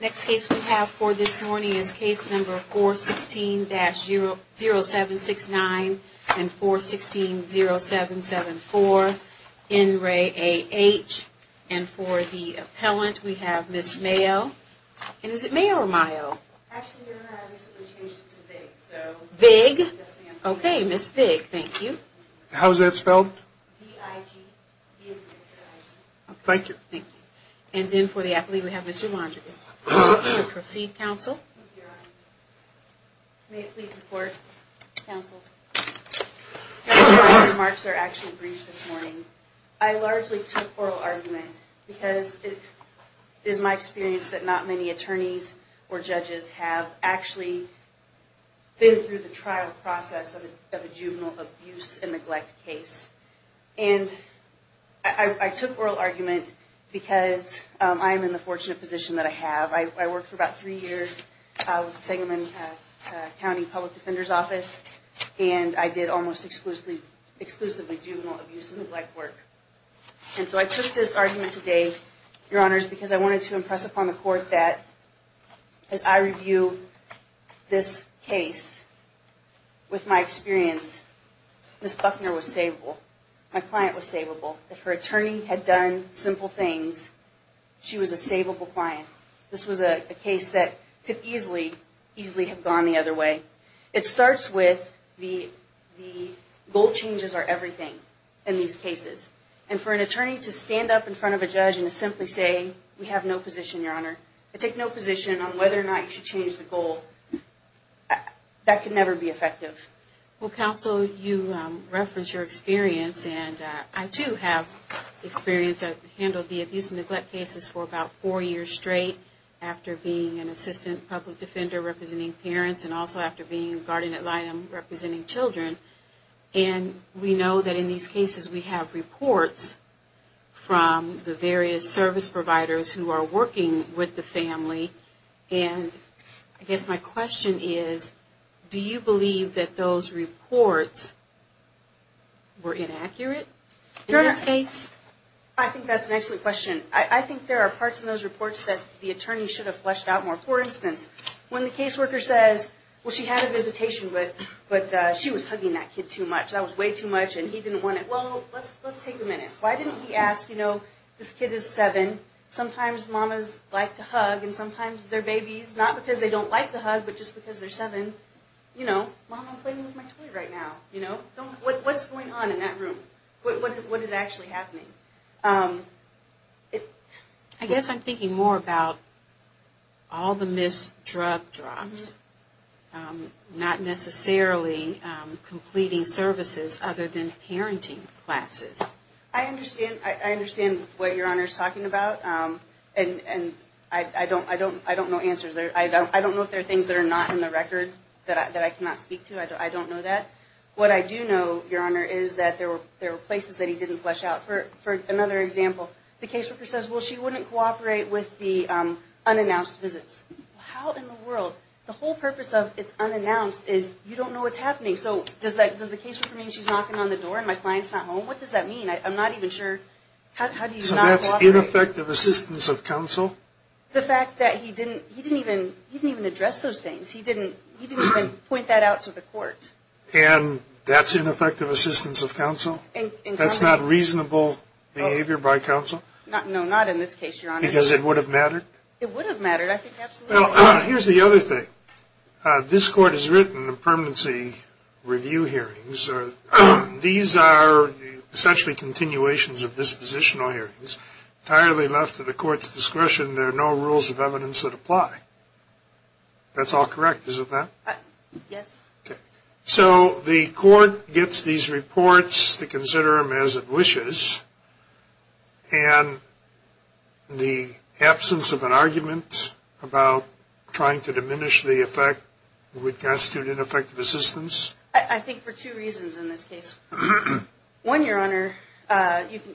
Next case we have for this morning is case number 416-0769 and 416-0774, in re A.H. And for the appellant we have Ms. Mayo. And is it Mayo or Mayo? Actually, your honor, I recently changed it to Vig. Vig? Okay, Ms. Vig, thank you. How is that spelled? V-I-G. Thank you. And then for the appellant we have Mr. Londrigan. Mr. Londrigan, proceed, counsel. Thank you, your honor. May it please the court, counsel. Counsel, my remarks are actually brief this morning. I largely took oral argument because it is my experience that not many attorneys or judges have actually been through the trial process of a juvenile abuse and neglect case. And I took oral argument because I am in the fortunate position that I have. I worked for about three years with the Sangamon County Public Defender's Office. And I did almost exclusively juvenile abuse and neglect work. And so I took this argument today, your honors, because I wanted to impress upon the court that as I review this case, with my experience, Ms. Buckner was saveable. My client was saveable. If her attorney had done simple things, she was a saveable client. This was a case that could easily, easily have gone the other way. It starts with the goal changes are everything in these cases. And for an attorney to stand up in front of a judge and to simply say, we have no position, your honor, I take no position on whether or not you should change the goal, that can never be effective. Well, counsel, you reference your experience, and I too have experience. I handled the abuse and neglect cases for about four years straight after being an assistant public defender representing parents, and also after being a guardian at line representing children. And we know that in these cases we have reports from the various service providers who are working with the family. And I guess my question is, do you believe that those reports were inaccurate in this case? I think that's an excellent question. I think there are parts in those reports that the attorney should have fleshed out more. For instance, when the caseworker says, well, she had a visitation, but she was hugging that kid too much. That was way too much, and he didn't want it. Well, let's take a minute. Why didn't he ask, you know, this kid is seven. Sometimes mamas like to hug, and sometimes their babies, not because they don't like the hug, but just because they're seven. You know, mom, I'm playing with my toy right now. What's going on in that room? What is actually happening? I guess I'm thinking more about all the missed drug drops, not necessarily completing services other than parenting classes. I understand what Your Honor is talking about, and I don't know answers. I don't know if there are things that are not in the record that I cannot speak to. I don't know that. What I do know, Your Honor, is that there were places that he didn't flesh out. For another example, the caseworker says, well, she wouldn't cooperate with the unannounced visits. How in the world? The whole purpose of it's unannounced is you don't know what's happening. So does the caseworker mean she's knocking on the door and my client's not home? What does that mean? I'm not even sure. How do you not cooperate? So that's ineffective assistance of counsel? The fact that he didn't even address those things. He didn't even point that out to the court. And that's ineffective assistance of counsel? That's not reasonable behavior by counsel? No, not in this case, Your Honor. Because it would have mattered? It would have mattered, I think absolutely. Here's the other thing. This Court has written the permanency review hearings. These are essentially continuations of dispositional hearings. Entirely left to the Court's discretion, there are no rules of evidence that apply. That's all correct, is it not? Yes. Okay. So the Court gets these reports to consider them as it wishes, and the absence of an argument about trying to diminish the effect would constitute ineffective assistance? I think for two reasons in this case. One, Your Honor,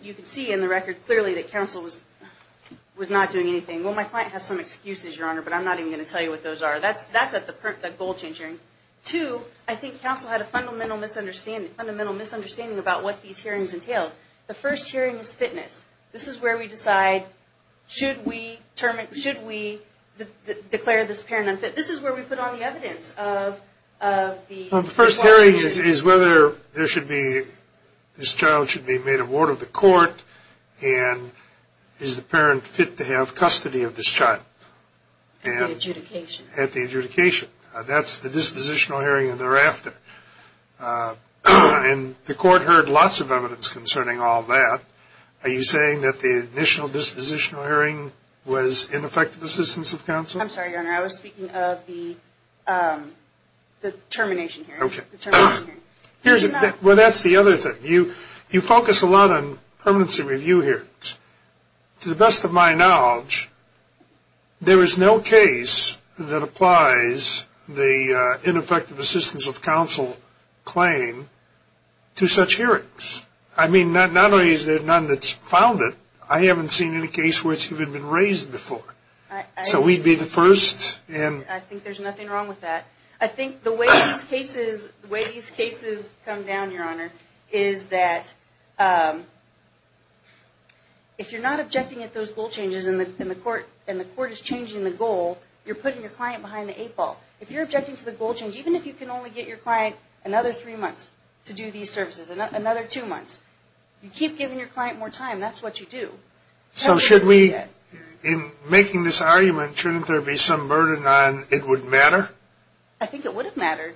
you can see in the record clearly that counsel was not doing anything. Well, my client has some excuses, Your Honor, but I'm not even going to tell you what those are. That's at the goal change hearing. Two, I think counsel had a fundamental misunderstanding about what these hearings entailed. The first hearing was fitness. This is where we decide, should we declare this parent unfit? This is where we put all the evidence of the requirements. Well, the first hearing is whether this child should be made a ward of the court, and is the parent fit to have custody of this child? At the adjudication. At the adjudication. That's the dispositional hearing and thereafter. And the Court heard lots of evidence concerning all that. Are you saying that the initial dispositional hearing was ineffective assistance of counsel? I'm sorry, Your Honor. I was speaking of the termination hearing. Well, that's the other thing. You focus a lot on permanency review hearings. To the best of my knowledge, there is no case that applies the ineffective assistance of counsel claim to such hearings. I mean, not only is there none that's founded, I haven't seen any case where it's even been raised before. So we'd be the first. I think there's nothing wrong with that. I think the way these cases come down, Your Honor, is that if you're not objecting at those goal changes and the Court is changing the goal, you're putting your client behind the eight ball. If you're objecting to the goal change, even if you can only get your client another three months to do these services, another two months, you keep giving your client more time. That's what you do. So should we, in making this argument, shouldn't there be some burden on it would matter? I think it would have mattered.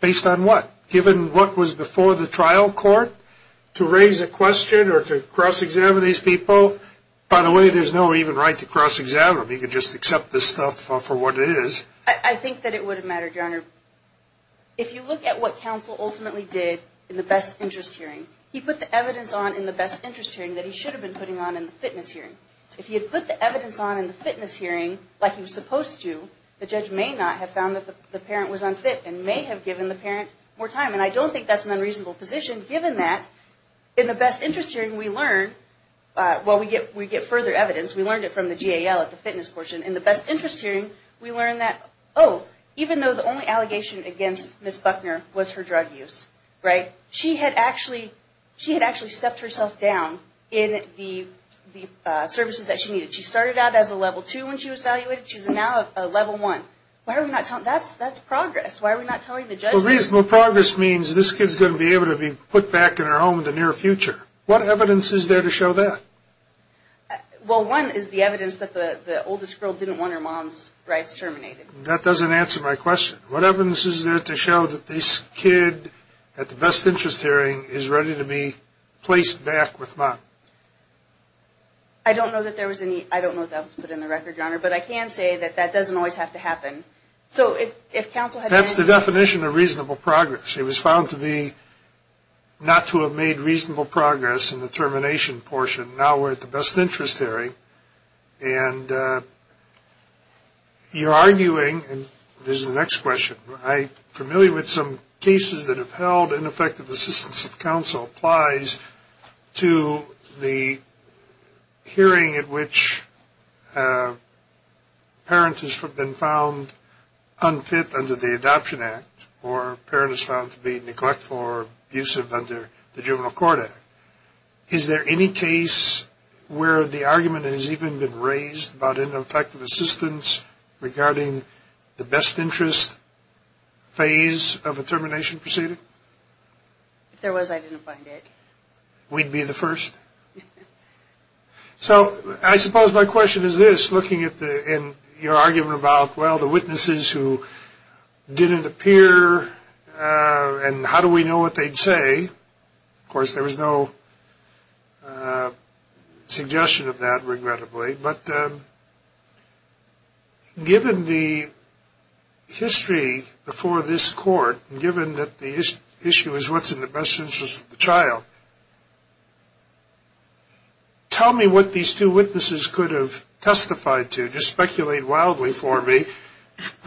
Based on what? Given what was before the trial court to raise a question or to cross-examine these people? By the way, there's no even right to cross-examine them. You can just accept this stuff for what it is. I think that it would have mattered, Your Honor. If you look at what counsel ultimately did in the best interest hearing, he put the evidence on in the best interest hearing that he should have been putting on in the fitness hearing. If he had put the evidence on in the fitness hearing like he was supposed to, the judge may not have found that the parent was unfit and may have given the parent more time. And I don't think that's an unreasonable position, given that in the best interest hearing we learn, well, we get further evidence. We learned it from the GAL at the fitness portion. In the best interest hearing, we learn that, oh, even though the only allegation against Ms. Buckner was her drug use, right, she had actually stepped herself down in the services that she needed. She started out as a level two when she was evaluated. She's now a level one. Why are we not telling? That's progress. Why are we not telling the judge? Well, reasonable progress means this kid's going to be able to be put back in her home in the near future. What evidence is there to show that? Well, one is the evidence that the oldest girl didn't want her mom's rights terminated. That doesn't answer my question. What evidence is there to show that this kid at the best interest hearing is ready to be placed back with mom? I don't know that there was any. I don't know if that was put in the record, Your Honor. But I can say that that doesn't always have to happen. So if counsel had intended... That's the definition of reasonable progress. It was found to be not to have made reasonable progress in the termination portion. Now we're at the best interest hearing. And you're arguing, and this is the next question, I'm familiar with some cases that have held ineffective assistance if counsel applies to the hearing at which a parent has been found unfit under the Adoption Act or a parent is found to be neglectful or abusive under the Juvenile Court Act. Is there any case where the argument has even been raised about ineffective assistance regarding the best interest phase of a termination proceeding? If there was, I didn't find it. We'd be the first. So I suppose my question is this, looking at your argument about, well, the witnesses who didn't appear and how do we know what they'd say? Of course, there was no suggestion of that, regrettably. But given the history before this Court, given that the issue is what's in the best interest of the child, tell me what these two witnesses could have testified to, just speculate wildly for me,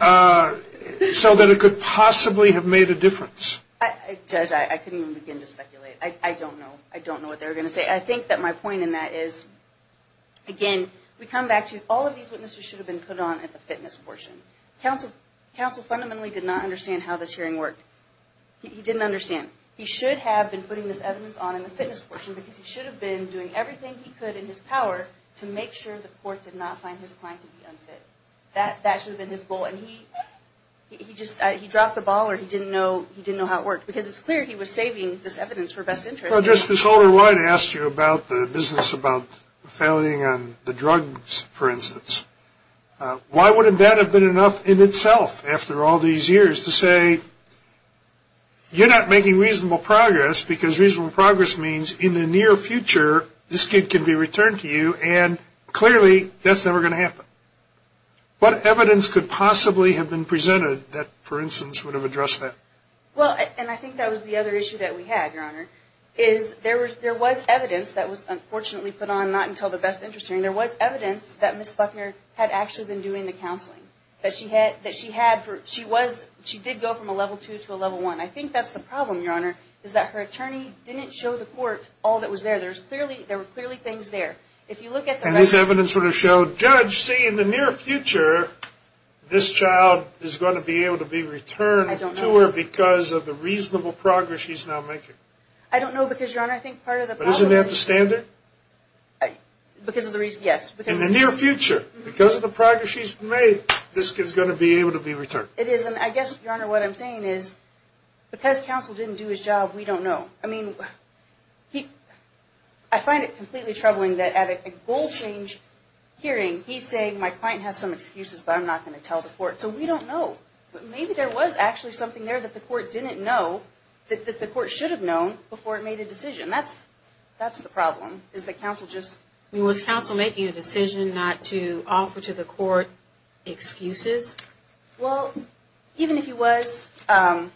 so that it could possibly have made a difference. Judge, I couldn't even begin to speculate. I don't know. I don't know what they were going to say. I think that my point in that is, again, we come back to, all of these witnesses should have been put on at the fitness portion. Counsel fundamentally did not understand how this hearing worked. He didn't understand. He should have been putting this evidence on in the fitness portion because he should have been doing everything he could in his power to make sure the Court did not find his client to be unfit. That should have been his goal. He dropped the ball or he didn't know how it worked because it's clear he was saving this evidence for best interest. This older wife asked you about the business about failing on the drugs, for instance. Why wouldn't that have been enough in itself after all these years to say, you're not making reasonable progress because reasonable progress means in the near future, this kid can be returned to you, and clearly that's never going to happen. What evidence could possibly have been presented that, for instance, would have addressed that? Well, and I think that was the other issue that we had, Your Honor, is there was evidence that was unfortunately put on not until the best interest hearing. There was evidence that Ms. Buckner had actually been doing the counseling, that she did go from a level two to a level one. I think that's the problem, Your Honor, is that her attorney didn't show the Court all that was there. There were clearly things there. And this evidence would have showed, judge, see, in the near future, this child is going to be able to be returned to her because of the reasonable progress she's now making. I don't know because, Your Honor, I think part of the problem is... But isn't that the standard? Because of the reason, yes. In the near future, because of the progress she's made, this kid's going to be able to be returned. It is, and I guess, Your Honor, what I'm saying is because counsel didn't do his job, we don't know. I mean, I find it completely troubling that at a goal change hearing, he's saying, my client has some excuses, but I'm not going to tell the Court. So we don't know. But maybe there was actually something there that the Court didn't know, that the Court should have known before it made a decision. That's the problem, is that counsel just... Was counsel making a decision not to offer to the Court excuses? Well, even if he was, I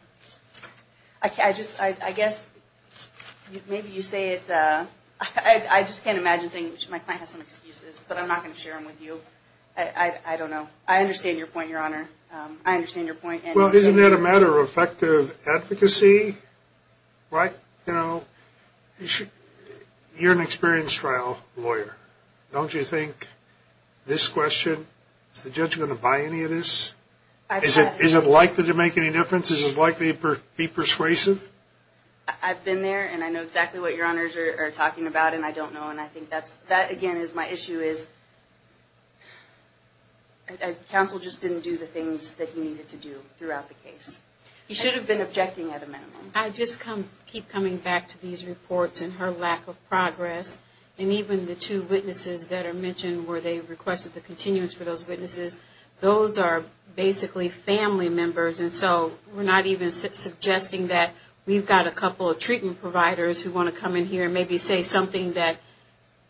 guess maybe you say it... I just can't imagine saying, my client has some excuses, but I'm not going to share them with you. I don't know. I understand your point, Your Honor. I understand your point. Well, isn't that a matter of effective advocacy, right? You know, you're an experienced trial lawyer. Don't you think this question, is the judge going to buy any of this? Is it likely to make any difference? Is it likely to be persuasive? I've been there, and I know exactly what Your Honors are talking about, and I don't know. And I think that, again, my issue is, counsel just didn't do the things that he needed to do throughout the case. He should have been objecting at a minimum. I just keep coming back to these reports and her lack of progress, and even the two witnesses that are mentioned where they requested the continuance for those witnesses. Those are basically family members, and so we're not even suggesting that we've got a couple of treatment providers who want to come in here and maybe say something that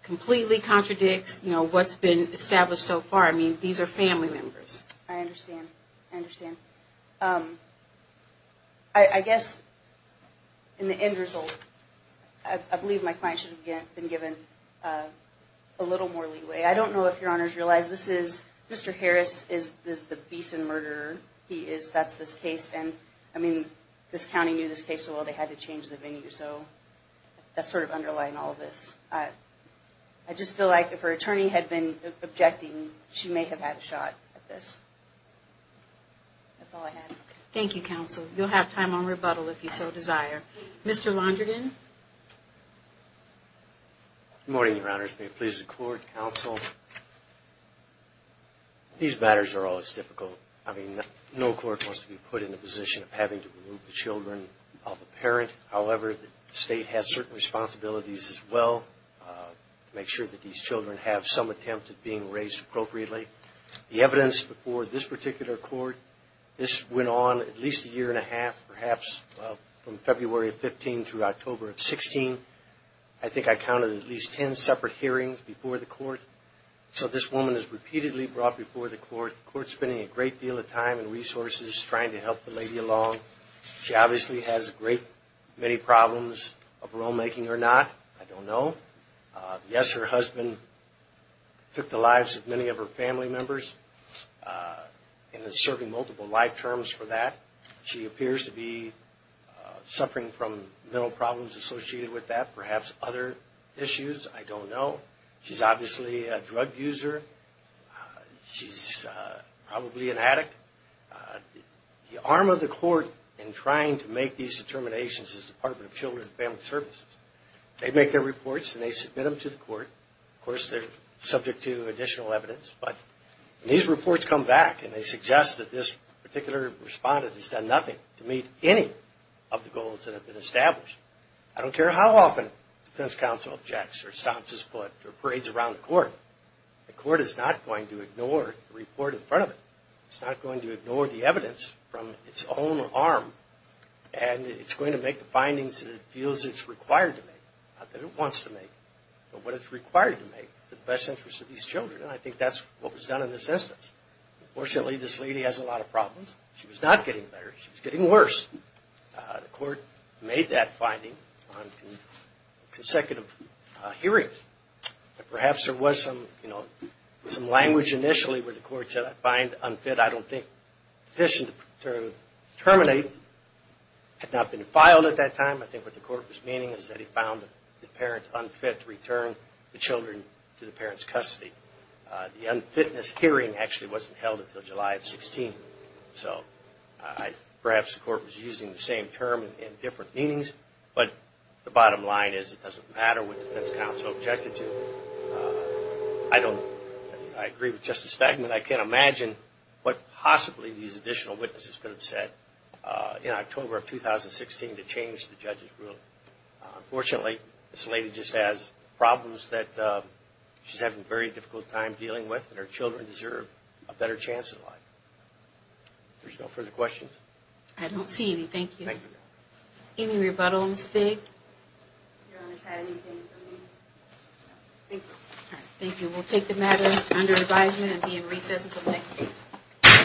completely contradicts what's been established so far. I mean, these are family members. I understand. I understand. I guess, in the end result, I believe my client should have been given a little more leeway. I don't know if Your Honors realize this is, Mr. Harris is the beast and murderer he is. That's this case, and I mean, this county knew this case so well they had to change the venue, so that's sort of underlying all of this. I just feel like if her attorney had been objecting, she may have had a shot at this. That's all I have. Thank you, Counsel. You'll have time on rebuttal if you so desire. Mr. Londrigan. Good morning, Your Honors. May it please the Court, Counsel. These matters are always difficult. I mean, no court wants to be put in the position of having to remove the children of a parent. However, the state has certain responsibilities as well to make sure that these children have some attempt at being raised appropriately. The evidence before this particular court, this went on at least a year and a half, perhaps from February of 15 through October of 16. I think I counted at least 10 separate hearings before the court. So this woman is repeatedly brought before the court, the court spending a great deal of time and resources trying to help the lady along. She obviously has a great many problems of rulemaking or not. I don't know. Yes, her husband took the lives of many of her family members and is serving multiple life terms for that. She appears to be suffering from mental problems associated with that, perhaps other issues. I don't know. She's obviously a drug user. She's probably an addict. The arm of the court in trying to make these determinations is the Department of Children and Family Services. They make their reports and they submit them to the court. Of course, they're subject to additional evidence. But these reports come back and they suggest that this particular respondent has done nothing to meet any of the goals that have been established. I don't care how often the defense counsel objects or stomps his foot or parades around the court, the court is not going to ignore the report in front of it. It's not going to ignore the evidence from its own arm and it's going to make the findings that it feels it's required to make, not that it wants to make, but what it's required to make for the best interest of these children. And I think that's what was done in this instance. Unfortunately, this lady has a lot of problems. She was not getting better. She was getting worse. The court made that finding on consecutive hearings. Perhaps there was some language initially where the court said, I find unfit, I don't think deficient to terminate, had not been filed at that time. I think what the court was meaning is that it found the parent unfit to return the children to the parent's custody. The unfitness hearing actually wasn't held until July of 16. So perhaps the court was using the same term in different meanings. But the bottom line is it doesn't matter what the defense counsel objected to. I agree with Justice Stegman. I can't imagine what possibly these additional witnesses could have said in October of 2016 to change the judge's rule. Unfortunately, this lady just has problems that she's having a very difficult time dealing with and her children deserve a better chance at life. If there's no further questions. I don't see any. Thank you. Any rebuttals? Thank you. We'll take the matter under advisement and be in recess until next case.